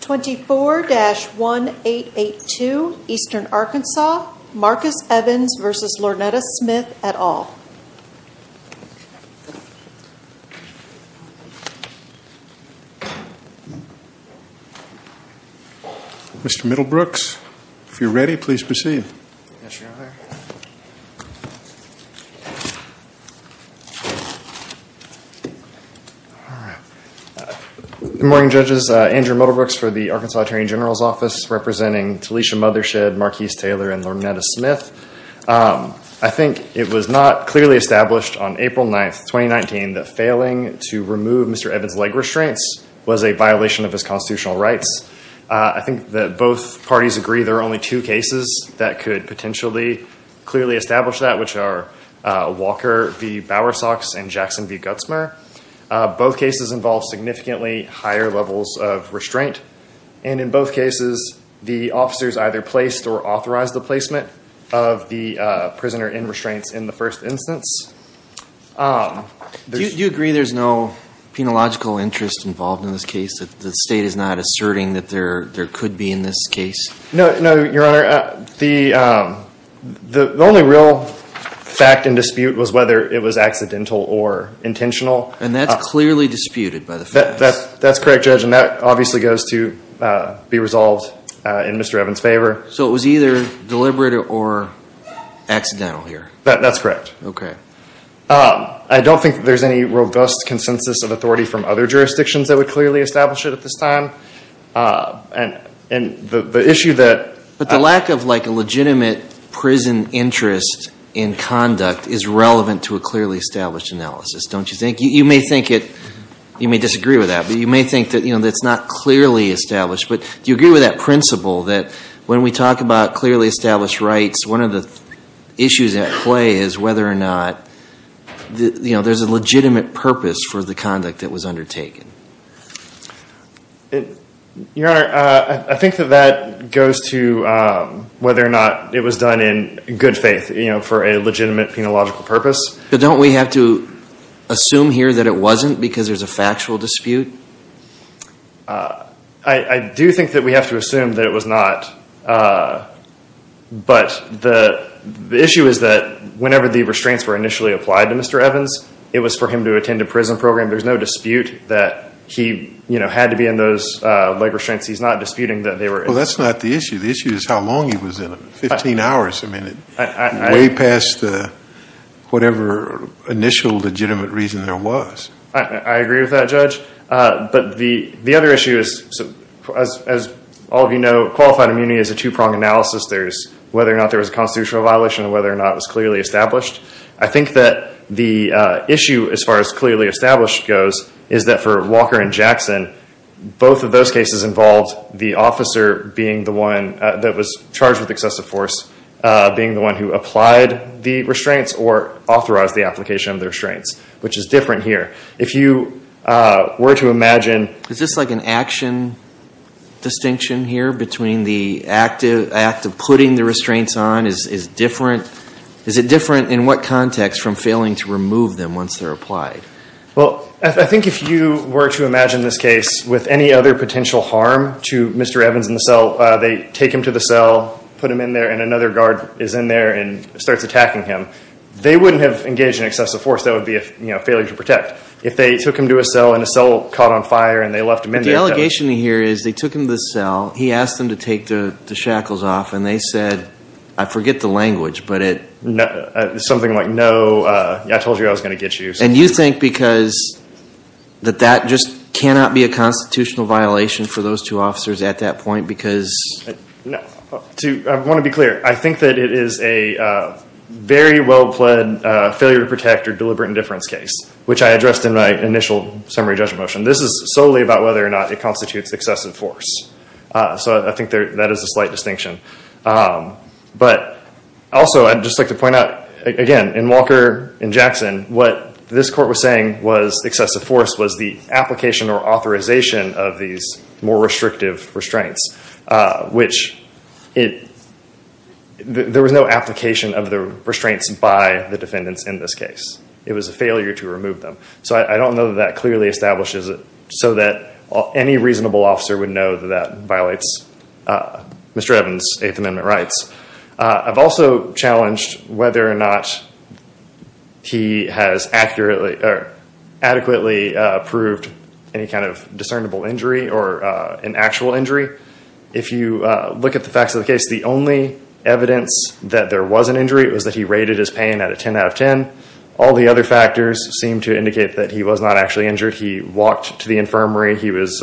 24-1882 Eastern Arkansas Marcus Evans v. Lornetta Smith et al. Mr. Middlebrooks, if you're ready, please proceed. Good morning, judges. Andrew Middlebrooks for the Arkansas Attorney General's Office, representing Talicia Mothershed, Marquis Taylor, and Lornetta Smith. I think it was not clearly established on April 9th, 2019, that failing to remove Mr. Evans' leg restraints was a violation of his constitutional rights. I think that both parties agree there are only two cases that could potentially clearly establish that, which are Walker v. Bowersox and Jackson v. Gutzmer. Both cases involve significantly higher levels of restraint, and in both cases the officers either placed or authorized the placement of the prisoner in restraints in the first instance. Do you agree there's no penological interest involved in this case, that the state is not asserting that there could be in this case? No, Your Honor, the only real fact in dispute was whether it was accidental or intentional. And that's clearly disputed by the facts. That's correct, Judge, and that obviously goes to be resolved in Mr. Evans' favor. So it was either deliberate or accidental here? That's correct. Okay. I don't think there's any robust consensus of authority from other jurisdictions that would clearly establish it at this time, and the issue that... But the lack of like a legitimate prison interest in conduct is relevant to a clearly established analysis, don't you think? You may think it, you may disagree with that, but you may think that, you know, that's not clearly established. But do you agree with that principle that when we talk about clearly established rights, one of the issues at play is whether or not, you know, there's a legitimate purpose for the conduct that was undertaken? Your Honor, I think that that goes to whether or not it was done in good faith, you know, for a legitimate penological purpose. But don't we have to assume here that it wasn't because there's a factual dispute? I do think that we have to assume that it was not. But the issue is that whenever the restraints were initially applied to Mr. Evans, it was for him to attend a prison program. There's no dispute that he, you know, had to be in those leg restraints. He's not disputing that they were... Well, that's not the issue. The issue is how long he was in there. Fifteen hours, I mean, way past whatever initial legitimate reason there was. I agree with that, Judge. But the other issue is, as all of you know, qualified immunity is a two-pronged analysis. There's whether or not there was a constitutional violation and whether or not it was clearly established. I think that the issue, as far as clearly established goes, is that for Walker and Jackson, both of those cases involved the officer being the one that was charged with excessive force being the one who applied the restraints or authorized the application of the restraints, which is different here. If you were to imagine... Is this like an action distinction here between the act of putting the restraints on is different? Is it different in what context from failing to move them once they're applied? Well, I think if you were to imagine this case with any other potential harm to Mr. Evans in the cell, they take him to the cell, put him in there, and another guard is in there and starts attacking him. They wouldn't have engaged in excessive force. That would be a, you know, failure to protect. If they took him to a cell and a cell caught on fire and they left him in there... The allegation here is they took him to the cell, he asked them to take the shackles off, and they said, I forget the language, but it... Something like, no, I told you I was going to get you. And you think because that that just cannot be a constitutional violation for those two officers at that point because... No. I want to be clear. I think that it is a very well-pleaded failure to protect or deliberate indifference case, which I addressed in my initial summary judgment motion. This is solely about whether or not it constitutes excessive force. So I think that is a slight distinction. But also, I'd just like to point out, again, in Walker and Jackson, what this court was saying was excessive force was the application or authorization of these more restrictive restraints, which it... There was no application of the restraints by the defendants in this case. It was a failure to remove them. So I don't know that clearly establishes it so that any reasonable officer would know that that violates Mr. Evans' Eighth Amendment rights. I've also challenged whether or not he has adequately proved any kind of discernible injury or an actual injury. If you look at the facts of the case, the only evidence that there was an injury was that he rated his pain at a 10 out of 10. All the other factors seem to indicate that he was not actually injured. He walked to the infirmary. He was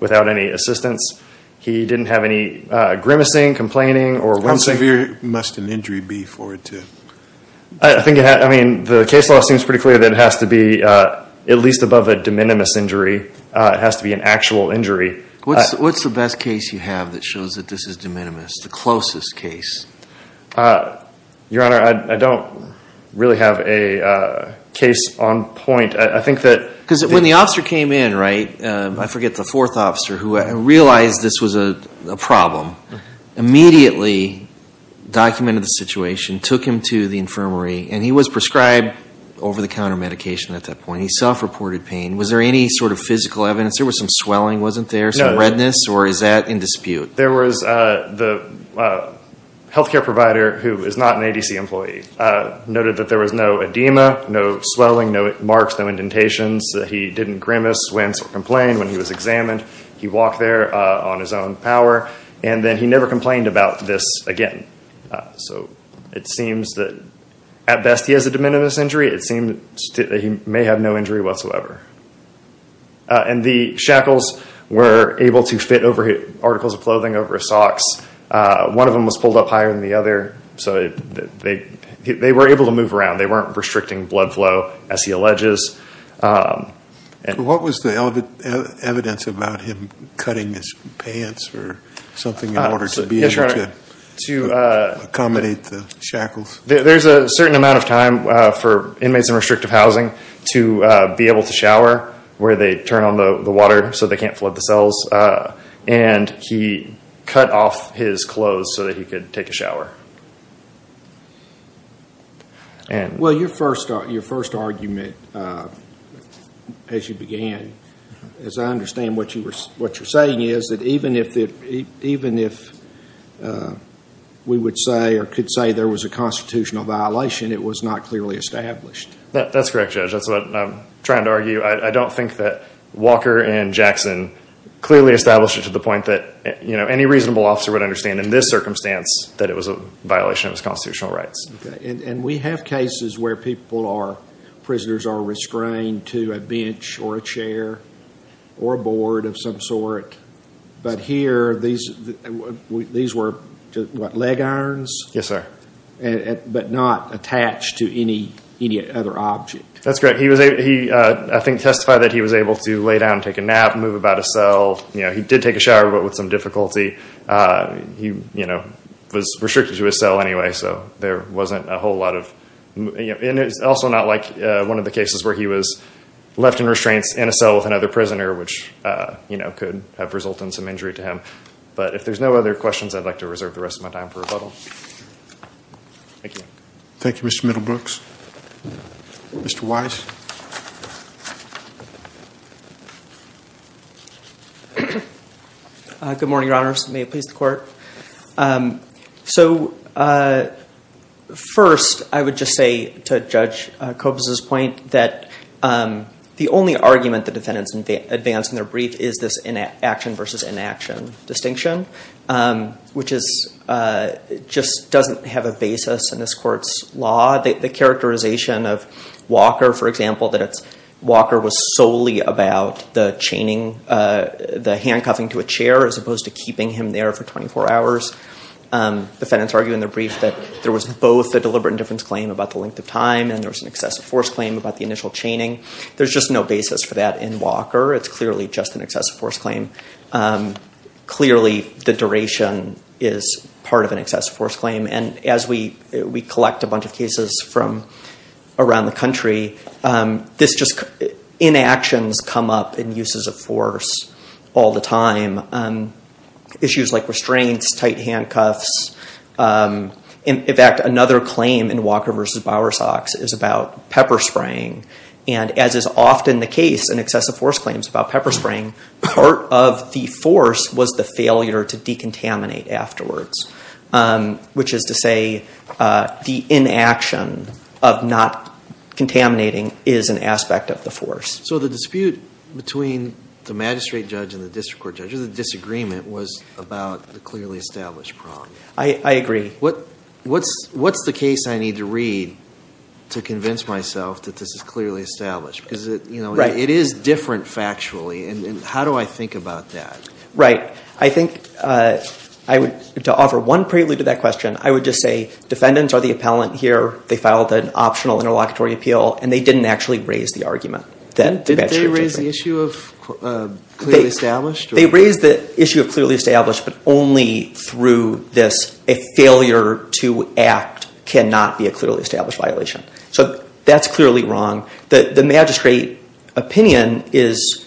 without any assistance. He didn't have any grimacing, complaining, or... How severe must an injury be for it to... I think it had... I mean, the case law seems pretty clear that it has to be at least above a de minimis injury. It has to be an actual injury. What's the best case you have that shows that this is de minimis, the closest case? Your Honor, I don't really have a case on point. I think that... Because when the officer came in, right, I forget the fourth officer who realized this was a problem, immediately documented the situation, took him to the infirmary, and he was prescribed over-the-counter medication at that point. He self-reported pain. Was there any sort of physical evidence? There was some swelling, wasn't there? Some redness? Or is that in dispute? There was... The health care provider, who is not an ADC employee, noted that there was no edema, no swelling, no marks, no indentations. He didn't grimace, wince, or complain when he was examined. He walked there on his own power, and then he never complained about this again. So it seems that at best he has a de minimis injury. It seems that he may have no injury whatsoever. And the shackles were able to fit over articles of clothing, over socks. One of them was pulled up higher than the other, so they were able to move around. They weren't restricting blood flow, as he alleges. And what was the evidence about him cutting his pants or something in order to be able to accommodate the shackles? There's a certain amount of time for inmates in restrictive housing to be able to shower, where they turn on the water so they can't flood the cells. And he cut off his clothes so that he could take a shower. Well, your first argument, as you began, as I understand what you're saying, is that even if we would say or could say there was a constitutional violation, it was not clearly established. That's correct, Judge. That's what I'm trying to argue. I don't think that Walker and Jackson clearly established it to the point that any reasonable officer would understand in this circumstance that it was a violation of his constitutional rights. And we have cases where people or prisoners are restrained to a bench or a chair or a board of some sort. But here, these were leg irons? Yes, sir. But not attached to any other object? That's correct. I think he testified that he was able to lay down, take a nap, move about a cell. He did take a shower, but with some difficulty. He was restricted to a cell anyway, so there wasn't a whole lot of... And it's also not like one of the cases where he was left in restraints in a cell with another prisoner, which could have resulted in some injury to him. But if there's no other questions, I'd like to reserve the rest of my time for rebuttal. Thank you. Thank you, Mr. Middlebrooks. Mr. Weiss? Good morning, Your Honors. May it please the Court. So first, I would just say to Judge Kobes's point that the only argument the defendants advance in their brief is this inaction versus inaction distinction, which just doesn't have a basis in this Court's law. The characterization of Walker, for example, that Walker was solely about the handcuffing to a chair as opposed to keeping him there for 24 hours. Defendants argue in their brief that there was both a deliberate indifference claim about the length of time and there was an excessive force claim about the initial chaining. There's just no basis for that in Walker. It's clearly just an excessive force claim. Clearly, the duration is part of an excessive force claim. And as we collect a bunch of cases from around the country, inactions come up in uses of force all the time. Issues like restraints, tight handcuffs. In fact, another claim in Walker versus Bowersox is about pepper spraying. And as often the case in excessive force claims about pepper spraying, part of the force was the failure to decontaminate afterwards, which is to say the inaction of not contaminating is an aspect of the force. So the dispute between the magistrate judge and the district court judge, or the disagreement, was about the clearly established problem. I agree. What's the case I need to read to convince myself that this is clearly established? Because it is different factually, and how do I think about that? Right. I think to offer one prelude to that question, I would just say defendants are the appellant here. They filed an optional interlocutory appeal, and they didn't actually raise the argument. Did they raise the issue of clearly established? They raised the issue of clearly established, but only through this a failure to act cannot be a clearly established violation. So that's clearly wrong. The magistrate opinion is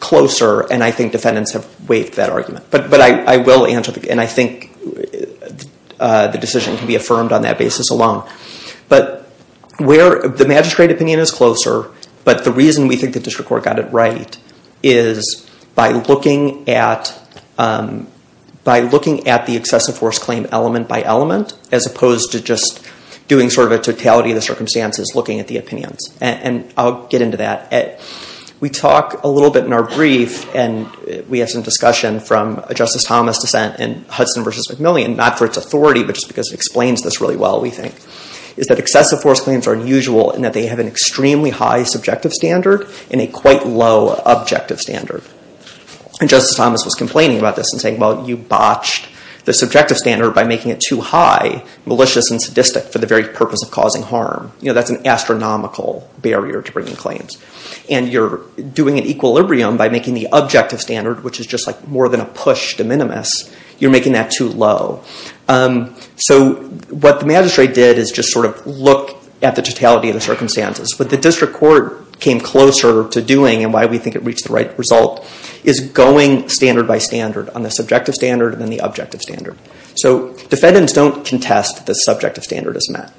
closer, and I think defendants have waived that argument. But I will answer, and I think the decision can be affirmed on that basis alone. But the magistrate opinion is closer, but the reason we think the district court got it right is by looking at the excessive force claim element by element, as opposed to doing sort of a totality of the circumstances looking at the opinions. And I'll get into that. We talk a little bit in our brief, and we have some discussion from a Justice Thomas dissent in Hudson v. McMillian, not for its authority, but just because it explains this really well, we think, is that excessive force claims are unusual in that they have an extremely high subjective standard and a quite low objective standard. And Justice Thomas was complaining about this and saying, well, you botched the subjective standard by making it too high, malicious and sadistic for the very purpose of causing harm. You know, that's an astronomical barrier to bringing claims. And you're doing an equilibrium by making the objective standard, which is just like more than a push de minimis, you're making that too low. So what the magistrate did is just sort of look at the totality of the circumstances. What the district court came closer to doing and why we think it reached the right result is going standard by standard on the subjective standard and then the objective standard. So defendants don't contest the subjective standard as met,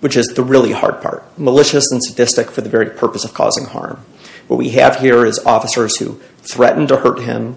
which is the really hard part, malicious and sadistic for the very purpose of causing harm. What we have here is officers who threatened to hurt him,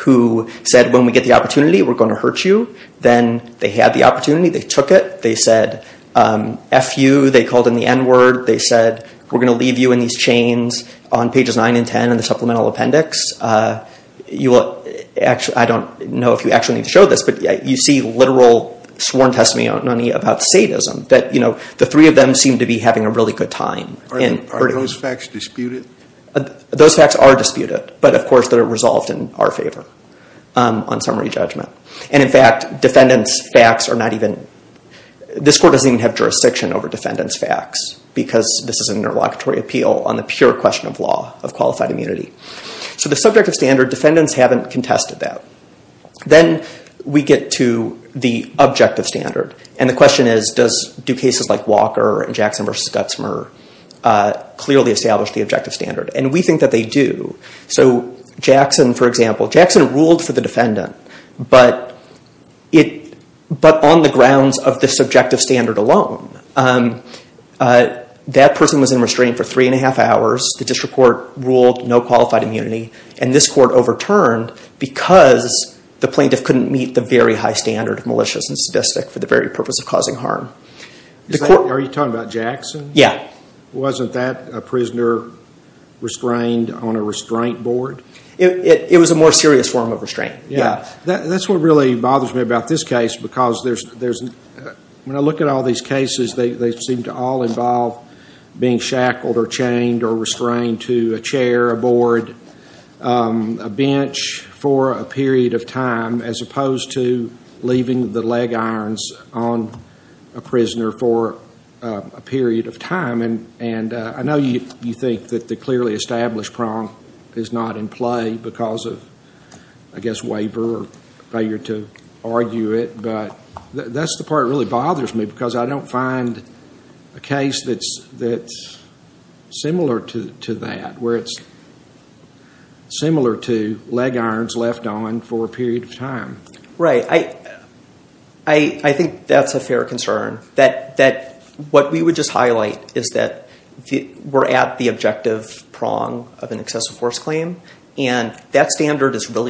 who said, when we get the opportunity, we're going to hurt you. Then they had the opportunity. They took it. They said, F you, they called in the N word. They said, we're going to leave you in these chains on pages 9 and 10 in the supplemental appendix. I don't know if you actually need to show this, but you see literal sworn testimony about sadism that the three of them seem to be having a really good time. Are those facts disputed? Those facts are disputed, but of course, they're resolved in our favor on summary judgment. And in fact, defendants' facts are not even, this court doesn't even have jurisdiction over defendants' facts because this is an interlocutory appeal on the pure question of law, of qualified immunity. So the subjective standard, defendants haven't contested that. Then we get to the objective standard. And the question is, do cases like Walker and Jackson v. Gutzmer clearly establish the objective standard? And we think that they do. So Jackson, for example, Jackson ruled for the defendant, but on the grounds of the subjective standard alone, that person was in restraint for three and a half hours. The district court ruled no qualified immunity. And this court overturned because the plaintiff couldn't meet the very high standard of malicious and sadistic for the very purpose of causing harm. Are you talking about Jackson? Yeah. Wasn't that a prisoner restrained on a restraint board? It was a more serious form of restraint, yeah. That's what really bothers me about this case because when I look at all these cases, they seem to all involve being shackled or chained or restrained to a chair, a board, a bench for a period of time, as opposed to leaving the leg irons on a prisoner for a period of time. And I know you think that the clearly established prong is not in play because I guess waiver or failure to argue it, but that's the part that really bothers me because I don't find a case that's similar to that, where it's similar to leg irons left on for a period of time. Right. I think that's a fair concern, that what we would just highlight is that we're at the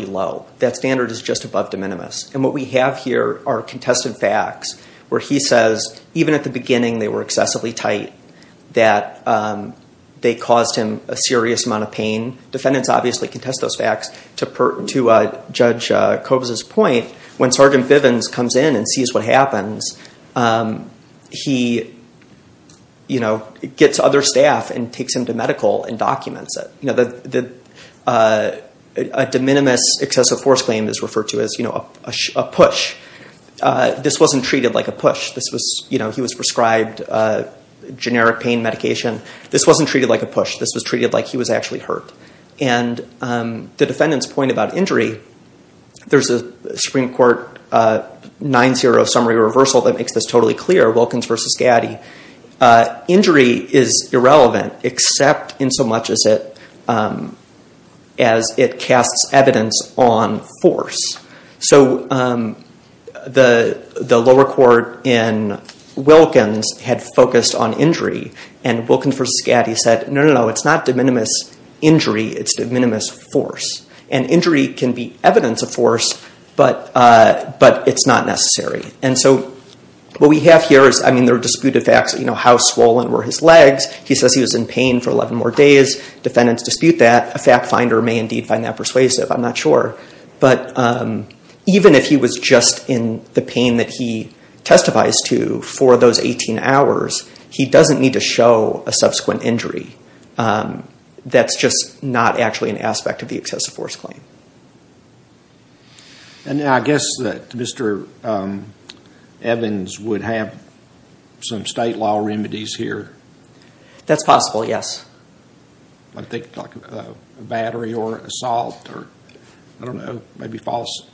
low, that standard is just above de minimis. And what we have here are contested facts where he says, even at the beginning, they were excessively tight, that they caused him a serious amount of pain. Defendants obviously contest those facts. To Judge Cobes's point, when Sergeant Bivens comes in and sees what happens, he gets other staff and takes him to medical and documents it. A de minimis excessive force claim is referred to as a push. This wasn't treated like a push. He was prescribed a generic pain medication. This wasn't treated like a push. This was treated like he was actually hurt. And the defendant's point about injury, there's a Supreme Court 9-0 summary reversal that makes this totally clear, Wilkins v. Gatti. Injury is irrelevant, except in so much as it casts evidence on force. So the lower court in Wilkins had focused on injury, and Wilkins v. Gatti said, no, no, no, it's not de minimis injury, it's de minimis force. And injury can be evidence of force, but it's not necessary. And so what we have here is, I mean, there are disputed facts, you know, how swollen were his legs. He says he was in pain for 11 more days. Defendants dispute that. A fact finder may indeed find that persuasive. I'm not sure. But even if he was just in the pain that he testified to for those 18 hours, he doesn't need to show a subsequent injury. That's just not actually an aspect of the excessive force claim. And I guess that Mr. Evans would have some state law remedies here. That's possible, yes. I think like a battery or assault or, I don't know, maybe false.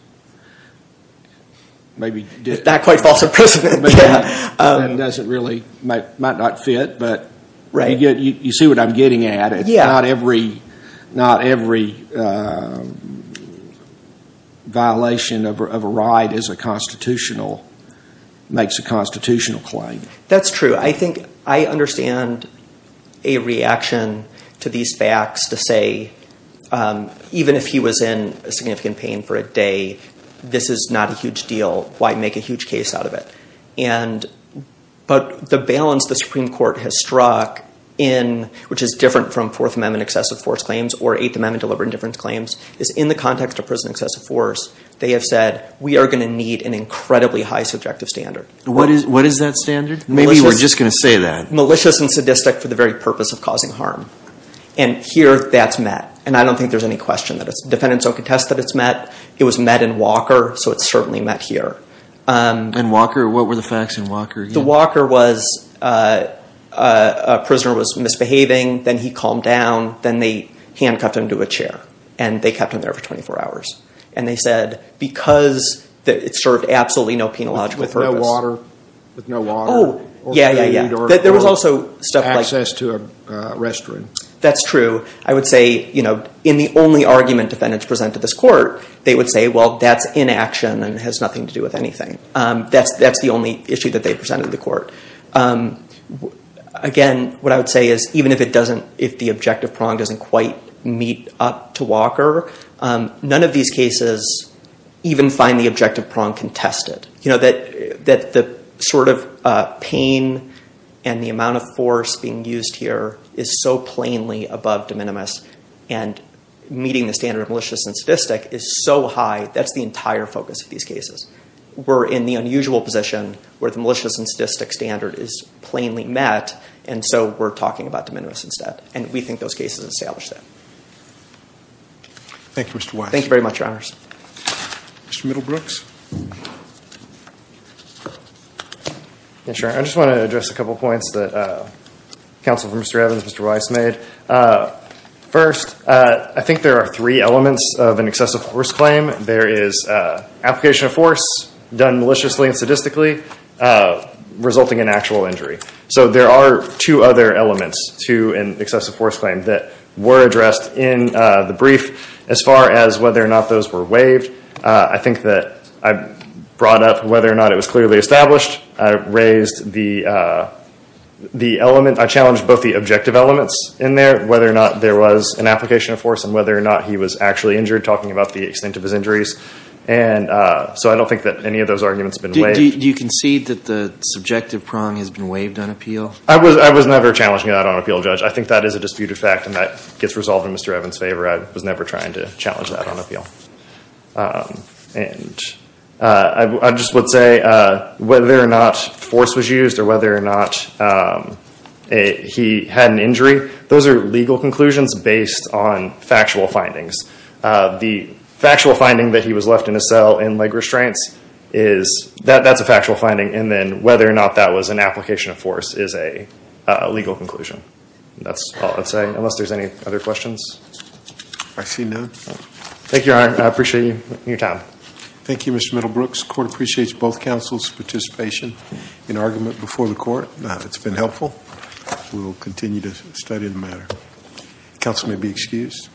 Maybe not quite false imprisonment, but that doesn't really, might not fit. But you see what I'm getting at. Not every violation of a right is a constitutional, makes a constitutional claim. That's true. I think I understand a reaction to these facts to say, even if he was in significant pain for a day, this is not a huge deal. Why make a huge case out of it? And, but the balance the Supreme Court has struck in, which is different from Fourth Amendment excessive force claims or Eighth Amendment deliberate indifference claims, is in the context of prison excessive force, they have said, we are going to need an incredibly high subjective standard. What is that standard? Maybe we're just going to say that. Malicious and sadistic for the very purpose of causing harm. And here that's met. And I don't think there's any question that it's, defendants don't contest that it's met. It was met in Walker, so it's certainly met here. And Walker, what were the facts in Walker? The Walker was, a prisoner was misbehaving, then he calmed down, then they handcuffed him to a chair and they kept him there for 24 hours. And they said, because it served absolutely no penological purpose. With no water, with no water. Oh, yeah, yeah, yeah. There was also stuff like- Access to a restroom. That's true. I would say, you know, in the only argument defendants present to this court, they would say, well, that's inaction and has nothing to do with anything. That's the only issue that they presented to the court. Again, what I would say is, even if it doesn't, if the objective prong doesn't quite meet up to Walker, none of these cases even find the objective prong contested. You know, that the sort of pain and the amount of force being used here is so plainly above de minimis and meeting the standard of malicious and sadistic is so high, that's the entire focus of these cases. We're in the unusual position where the malicious and sadistic standard is plainly met, and so we're talking about de minimis instead. And we think those cases establish that. Thank you, Mr. Weiss. Thank you very much, Your Honors. Mr. Middlebrooks. Yeah, sure. I just want to address a couple points that counsel for Mr. Evans, Mr. Weiss made. First, I think there are three elements of an excessive force claim. There is application of force done maliciously and sadistically, resulting in actual injury. So there are two other elements to an excessive force claim that were addressed in the brief as far as whether or not those were waived. I think that I brought up whether or not it was clearly established. I raised the element, I challenged both the objective elements in there, whether or not there was an application of force and whether or not he was actually injured, talking about the extent of his injuries. And so I don't think that any of those arguments have been waived. Do you concede that the subjective prong has been waived on appeal? I was never challenging that on appeal, Judge. I think that is a disputed fact and that gets resolved in Mr. Evans' favor. I was never trying to challenge that on appeal. And I just would say whether or not force was used or whether or not he had an injury, those are legal conclusions based on factual findings. The factual finding that he was left in a cell in leg restraints, that's a factual finding. And then whether or not that was an application of force is a legal conclusion. That's all I'd say, unless there's any other questions. I see none. Thank you, Your Honor. I appreciate you and your time. Thank you, Mr. Middlebrooks. The court appreciates both counsel's participation in argument before the court. It's been helpful. We'll continue to study the matter. Counsel may be excused.